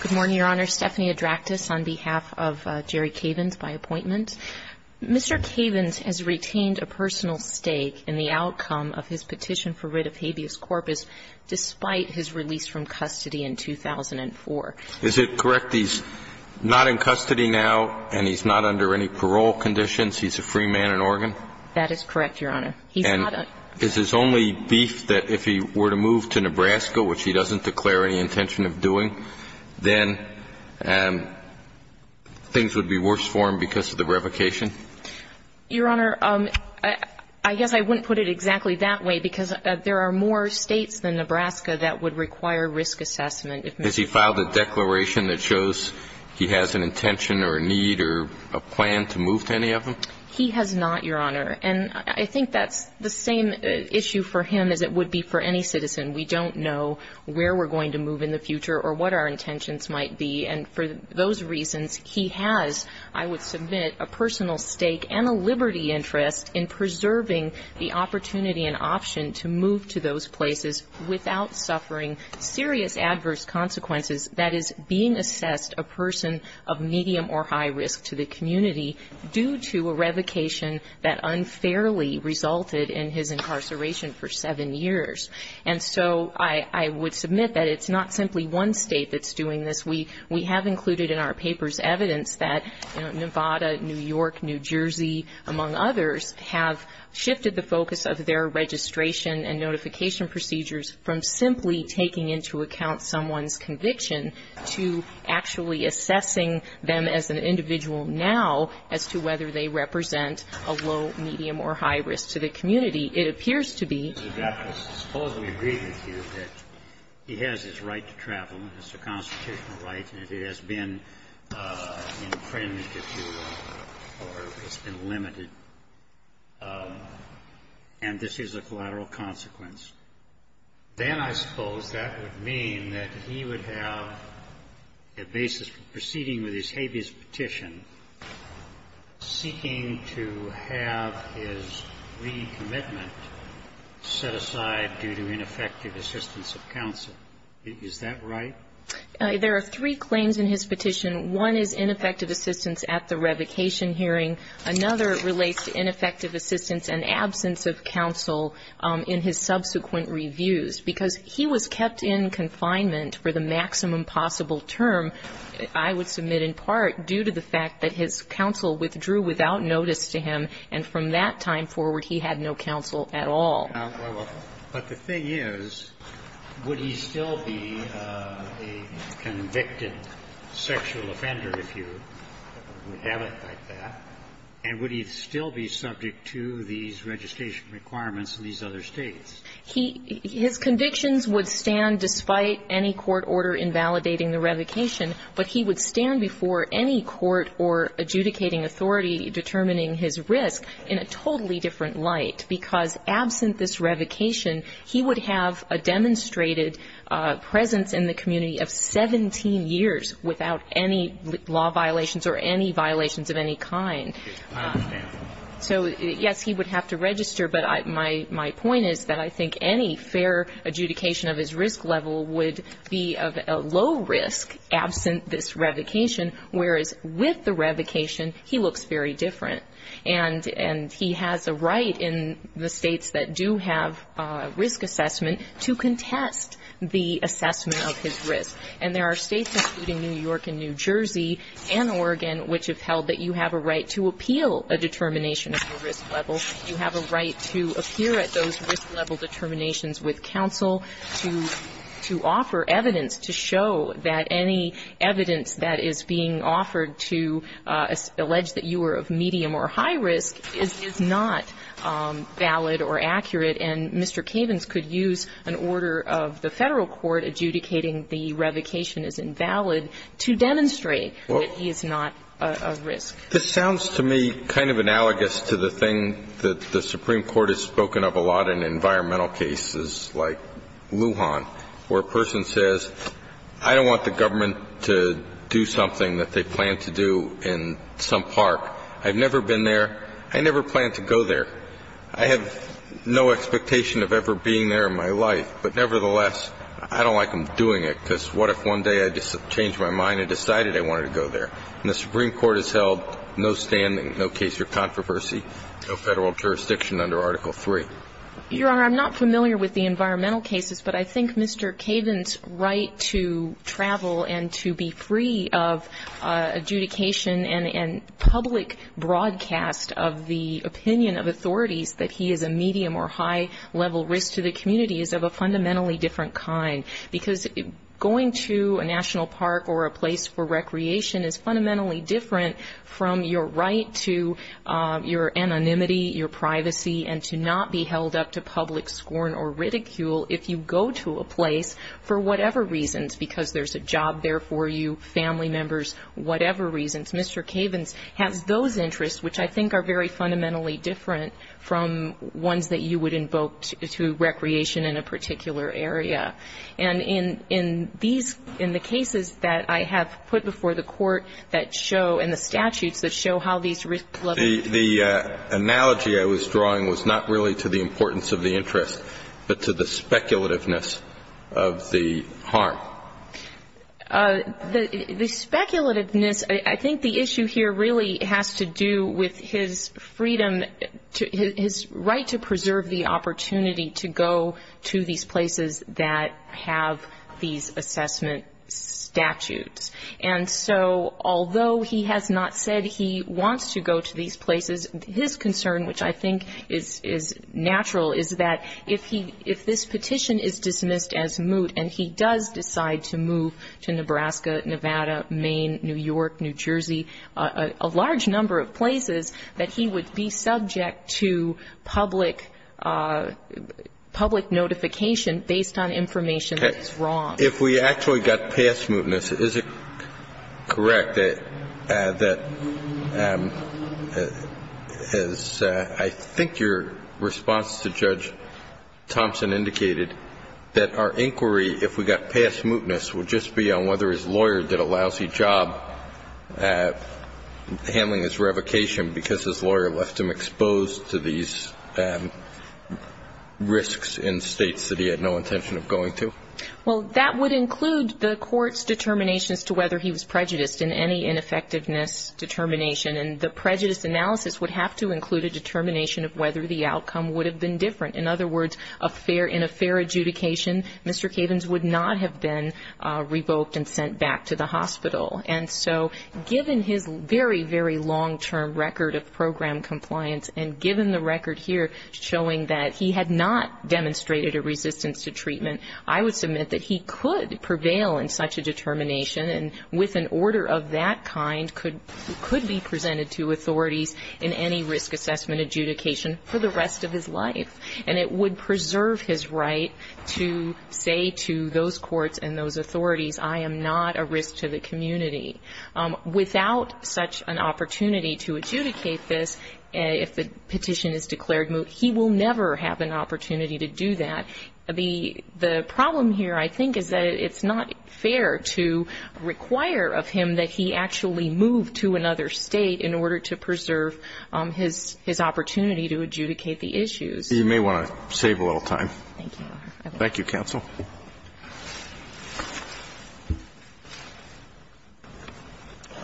Good morning, Your Honor. Stephanie Adraktis on behalf of Jerry Cavins by appointment. Mr. Cavins has retained a personal stake in the outcome of his petition for writ of habeas corpus despite his release from custody in 2004. Is it correct he's not in custody now and he's not under any parole conditions? He's a free man in Oregon? That is correct, Your Honor. And is his only beef that if he were to move to Nebraska, which he doesn't declare any intention of doing, then things would be worse for him because of the revocation? Your Honor, I guess I wouldn't put it exactly that way because there are more states than Nebraska that would require risk assessment. Has he filed a declaration that shows he has an intention or a need or a plan to move to any of them? He has not, Your Honor. And I think that's the same issue for him as it would be for any citizen. We don't know where we're going to move in the future or what our intentions might be. And for those reasons, he has, I would submit, a personal stake and a liberty interest in preserving the opportunity and option to move to those places without suffering serious adverse consequences that is being assessed a person of medium or high risk to the community due to a revocation that unfairly resulted in his incarceration for seven years. And so I would submit that it's not simply one state that's doing this. We have included in our papers evidence that Nevada, New York, New Jersey, among others, have shifted the focus of their registration and notification procedures from simply taking into account someone's conviction to actually assessing them as an individual now as to whether they represent a low, medium, or high risk to the community. It appears to be that he has his right to travel. It's a constitutional right, and it has been infringed, if you will, or it's been limited. And this is a collateral consequence. Then I suppose that would mean that he would have a basis for proceeding with his habeas petition, seeking to have his recommitment set aside due to ineffective assistance of counsel. Is that right? There are three claims in his petition. One is ineffective assistance at the revocation hearing. Another relates to ineffective assistance and absence of counsel in his subsequent reviews. Because he was kept in confinement for the maximum possible term, I would submit in part due to the fact that his counsel withdrew without notice to him, and from that time forward he had no counsel at all. But the thing is, would he still be a convicted sexual offender if you would have it like that, and would he still be subject to these registration requirements in these other States? His convictions would stand despite any court order invalidating the revocation, but he would stand before any court or adjudicating authority determining his risk in a totally different light, because absent this revocation, he would have a demonstrated presence in the community of 17 years without any law violations or any violations of any kind. So, yes, he would have to register, but my point is that I think any fair adjudication of his risk level would be of a low risk absent this revocation, whereas with the revocation, he looks very different. And he has a right in the States that do have a fair adjudication and do have risk assessment to contest the assessment of his risk. And there are States, including New York and New Jersey and Oregon, which have held that you have a right to appeal a determination of your risk level, you have a right to appear at those risk level determinations with counsel to offer evidence to show that any evidence that is being offered to allege that you are of medium or high risk is not valid or accurate, and that you have a right to appeal a determination of your risk level. And Mr. Cavens could use an order of the Federal court adjudicating the revocation is invalid to demonstrate that he is not of risk. This sounds to me kind of analogous to the thing that the Supreme Court has spoken of a lot in environmental cases like Lujan, where a person says, I don't want the government to do something that they plan to do in some park. I've never been there. I never plan to go there. I have no expectation of ever being there in my life. But nevertheless, I don't like them doing it, because what if one day I just changed my mind and decided I wanted to go there? And the Supreme Court has held no standing, no case for controversy, no Federal jurisdiction under Article III. Your Honor, I'm not familiar with the environmental cases, but I think Mr. Cavens' right to travel and to be free of adjudication and public broadcast of the opinion of authorities that he is a medium or high-level risk to the community is of a fundamentally different kind. Because going to a national park or a place for recreation is fundamentally different from your right to your anonymity, your privacy, and to not be held up to public scorn or ridicule if you go to a place for whatever reasons, because there's a job there for you, family members, whatever reasons. Mr. Cavens has those interests, which I think are very fundamentally different from ones that you would invoke to recreation in a particular area. And in these, in the cases that I have put before the Court that show, and the statutes that show how these risk-levels... The analogy I was drawing was not really to the importance of the interest, but to the speculativeness of the harm. The speculativeness, I think the issue here really has to do with his freedom, his right to preserve the opportunity to go to these places that have these assessment statutes. And so although he has not said he wants to go to these places, his concern, which I think is natural, is that if this petition is dismissed as moot, and he does decide to move to Nebraska, Nevada, Maine, New York, New Jersey, a large number of places, that he would be subject to public notification based on information that is wrong. If we actually got past mootness, is it correct that, as I think your response to Judge Thompson indicated, that our inquiry, if we got past mootness, would just be on whether his lawyer did a lousy job handling his revocation, because his lawyer left him exposed to these risks in states that he had no intention of going to? Well, that would include the Court's determinations to whether he was prejudiced in any ineffectiveness determination. And the prejudice analysis would have to include a determination of whether the outcome would have been different. In other words, in a fair adjudication, Mr. Cavens would not have been revoked and sent back to the hospital. And so given his very, very long-term record of program compliance, and given the record here showing that he had not demonstrated a resistance to treatment, I would submit that he could prevail in such a determination, and with an order of that kind, could be presented to authorities in any risk assessment adjudication for the rest of his life. And it would preserve his right to say to those courts and those authorities, I am not a risk to the community. Without such an opportunity to adjudicate this, if the petition is declared moot, he will never have an opportunity to do that. The problem here, I think, is that it's not fair to require of him that he actually move to another state in order to preserve his opportunity to adjudicate the issues. You may want to save a little time. Thank you, Your Honor. Thank you, counsel.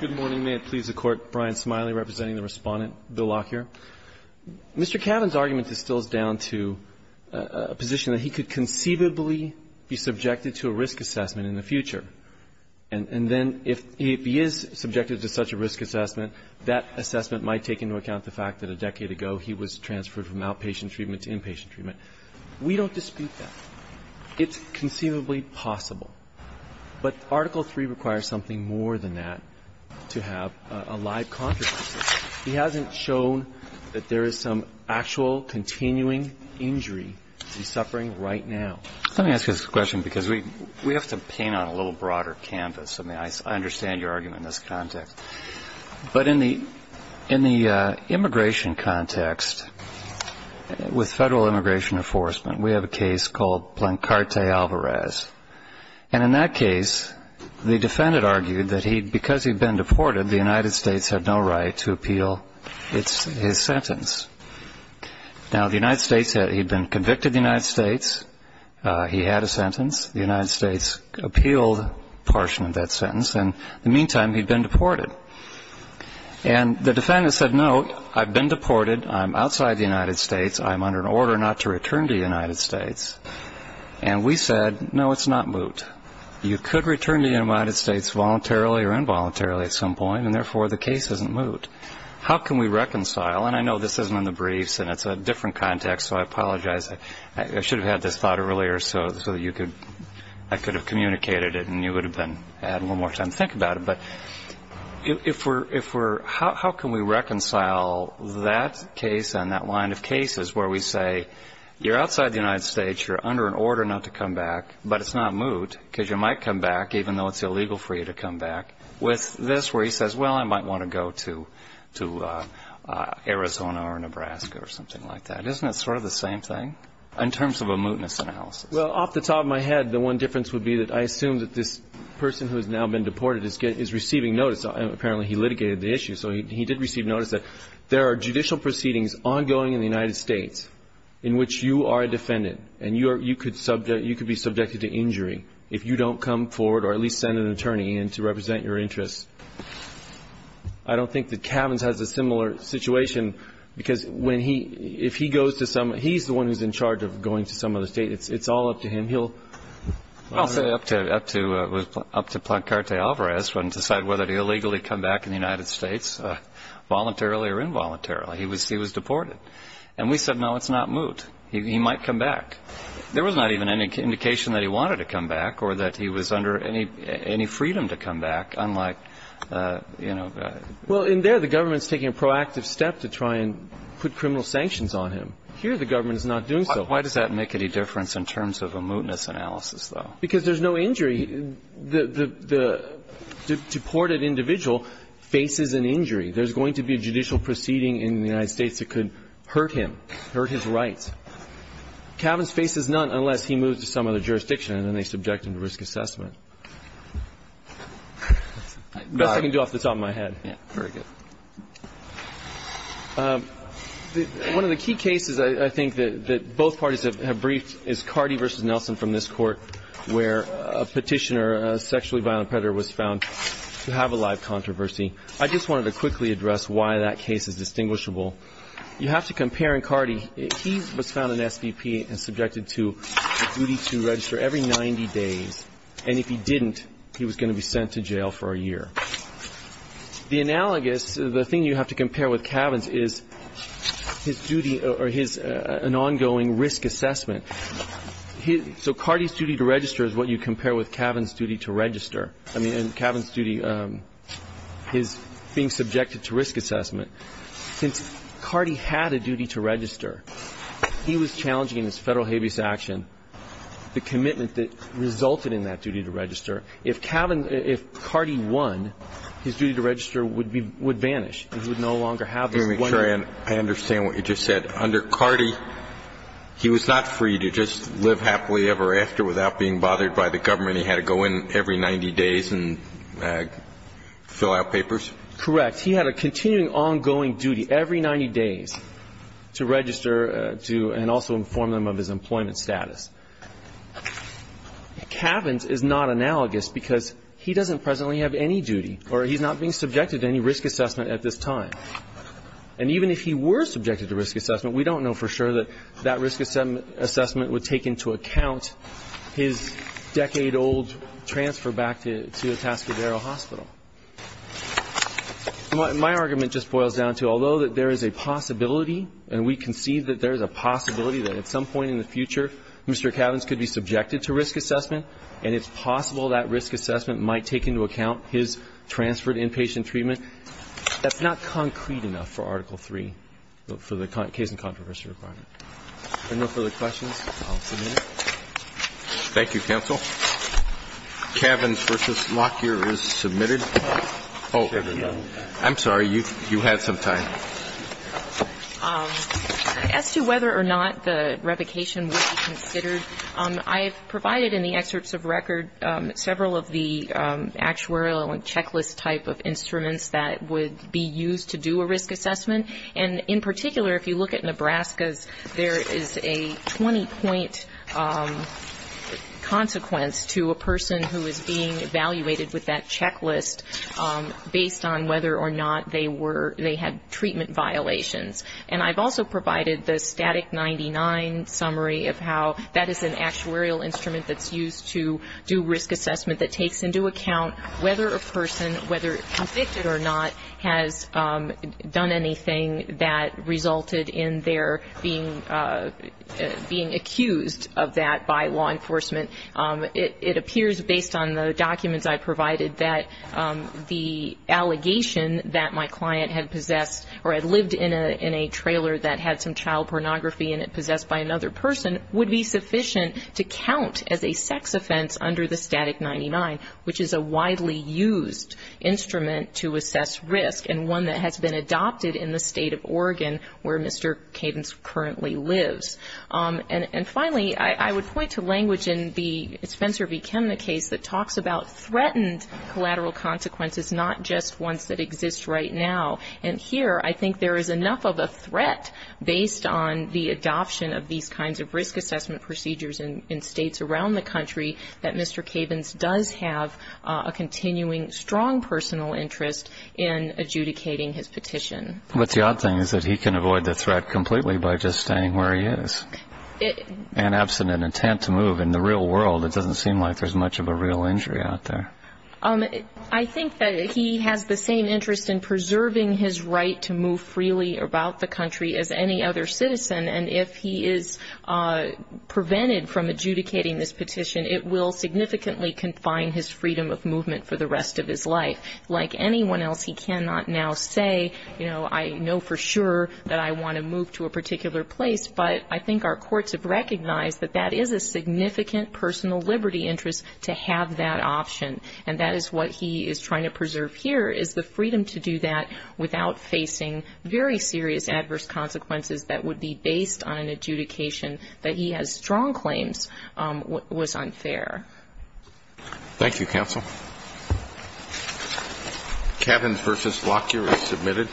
Good morning. May it please the Court. Brian Smiley representing the Respondent, Bill Lockyer. Mr. Cavens' argument distills down to a position that he could conceivably be subjected to a risk assessment in the future. And then if he is subjected to such a risk assessment, that assessment might take into account the fact that a decade ago he was transferred from outpatient treatment to inpatient treatment. We don't dispute that. It's conceivably possible. But Article III requires something more than that to have a live controversy. He hasn't shown that there is some actual continuing injury he's suffering right now. Let me ask you this question because we have to paint on a little broader canvas. I mean, I understand your argument in this context. But in the immigration context, with federal immigration enforcement, we have a case called Blancarte Alvarez. And in that case, the defendant argued that because he'd been deported, the United States had no right to appeal his sentence. Now, the United States had been convicted of the United States. He had a sentence. The United States appealed a portion of that sentence. And in the meantime, he'd been deported. And the defendant said, no, I've been deported. I'm outside the United States. I'm under an order not to return to the United States. And we said, no, it's not moot. You could return to the United States voluntarily or involuntarily at some point, and therefore the case isn't moot. How can we reconcile? And I know this isn't in the briefs, and it's a different context, so I apologize. I should have had this thought earlier so that I could have communicated it and you would have had a little more time to think about it. But how can we reconcile that case and that line of cases where we say, you're outside the United States, you're under an order not to come back, but it's not moot because you might come back, even though it's illegal for you to come back, with this where he says, well, I might want to go to Arizona or Nebraska or something like that. Isn't it sort of the same thing in terms of a mootness analysis? Well, off the top of my head, the one difference would be that I assume that this person who has now been deported is receiving notice. Apparently he litigated the issue, so he did receive notice that there are judicial proceedings ongoing in the United States in which you are a defendant and you could be subjected to injury if you don't come forward or at least send an attorney in to represent your interests. I don't think that Cavins has a similar situation because when he goes to some, he's the one who's in charge of going to some other state. It's all up to him. I'll say it was up to Plancarte Alvarez to decide whether to illegally come back in the United States, voluntarily or involuntarily. He was deported. And we said, no, it's not moot. He might come back. There was not even any indication that he wanted to come back or that he was under any freedom to come back, unlike, you know. Well, in there, the government's taking a proactive step to try and put criminal sanctions on him. Here, the government is not doing so. Why does that make any difference in terms of a mootness analysis, though? Because there's no injury. The deported individual faces an injury. There's going to be a judicial proceeding in the United States that could hurt him, hurt his rights. Cavan's face is none unless he moves to some other jurisdiction, and then they subject him to risk assessment. That's all I can do off the top of my head. Yeah, very good. One of the key cases I think that both parties have briefed is Cardi v. Nelson from this court, where a petitioner, a sexually violent predator, was found to have a live controversy. I just wanted to quickly address why that case is distinguishable. You have to compare in Cardi. He was found an SVP and subjected to a duty to register every 90 days, and if he didn't, he was going to be sent to jail for a year. The analogous, the thing you have to compare with Cavan's, is his duty or his ongoing risk assessment. So Cardi's duty to register is what you compare with Cavan's duty to register. I mean, Cavan's duty, his being subjected to risk assessment. Since Cardi had a duty to register, he was challenging in his Federal habeas action the commitment that resulted in that duty to register. If Cavan, if Cardi won, his duty to register would be, would vanish. He would no longer have this one. Let me make sure I understand what you just said. Under Cardi, he was not free to just live happily ever after without being bothered by the government. He had to go in every 90 days and fill out papers? Correct. He had a continuing ongoing duty every 90 days to register to and also inform them of his employment status. Cavan's is not analogous because he doesn't presently have any duty or he's not being subjected to any risk assessment at this time. And even if he were subjected to risk assessment, we don't know for sure that that risk assessment would take into account his decade-old transfer back to Atascadero Hospital. My argument just boils down to, although that there is a possibility and we can see that there is a possibility that at some point in the future, Mr. Cavan's could be subjected to risk assessment, and it's possible that risk assessment might take into account his transferred inpatient treatment, that's not concrete enough for Article III, for the case in controversy requirement. If there are no further questions, I'll submit it. Thank you, counsel. Cavan's v. Lockyer is submitted. Oh, I'm sorry. You had some time. As to whether or not the revocation would be considered, I have provided in the excerpts of record several of the actuarial and checklist type of instruments that would be used to do a risk assessment. And in particular, if you look at Nebraska's, there is a 20-point consequence to a person who is being evaluated with that checklist based on whether or not they had treatment violations. And I've also provided the static 99 summary of how that is an actuarial instrument that's used to do risk assessment that takes into account whether a person, whether convicted or not, has done anything that resulted in their being accused of that by law enforcement. It appears, based on the documents I provided, that the allegation that my client had possessed or had lived in a trailer that had some child pornography and it possessed by another person would be sufficient to count as a sex offense under the static 99, which is a widely used instrument to assess risk and one that has been adopted in the state of Oregon where Mr. Cadence currently lives. And finally, I would point to language in the Spencer v. Kemner case that talks about threatened collateral consequences, not just ones that exist right now. And here I think there is enough of a threat based on the adoption of these kinds of Mr. Cadence does have a continuing strong personal interest in adjudicating his petition. But the odd thing is that he can avoid the threat completely by just staying where he is. And absent an intent to move in the real world, it doesn't seem like there's much of a real injury out there. I think that he has the same interest in preserving his right to move freely about the country as any other citizen, and if he is prevented from adjudicating this petition, it will significantly confine his freedom of movement for the rest of his life. Like anyone else, he cannot now say, you know, I know for sure that I want to move to a particular place, but I think our courts have recognized that that is a significant personal liberty interest to have that option. And that is what he is trying to preserve here is the freedom to do that without facing very serious adverse consequences that would be based on an adjudication that he has strong claims was unfair. Thank you, counsel. Cadence v. Lockyer is submitted.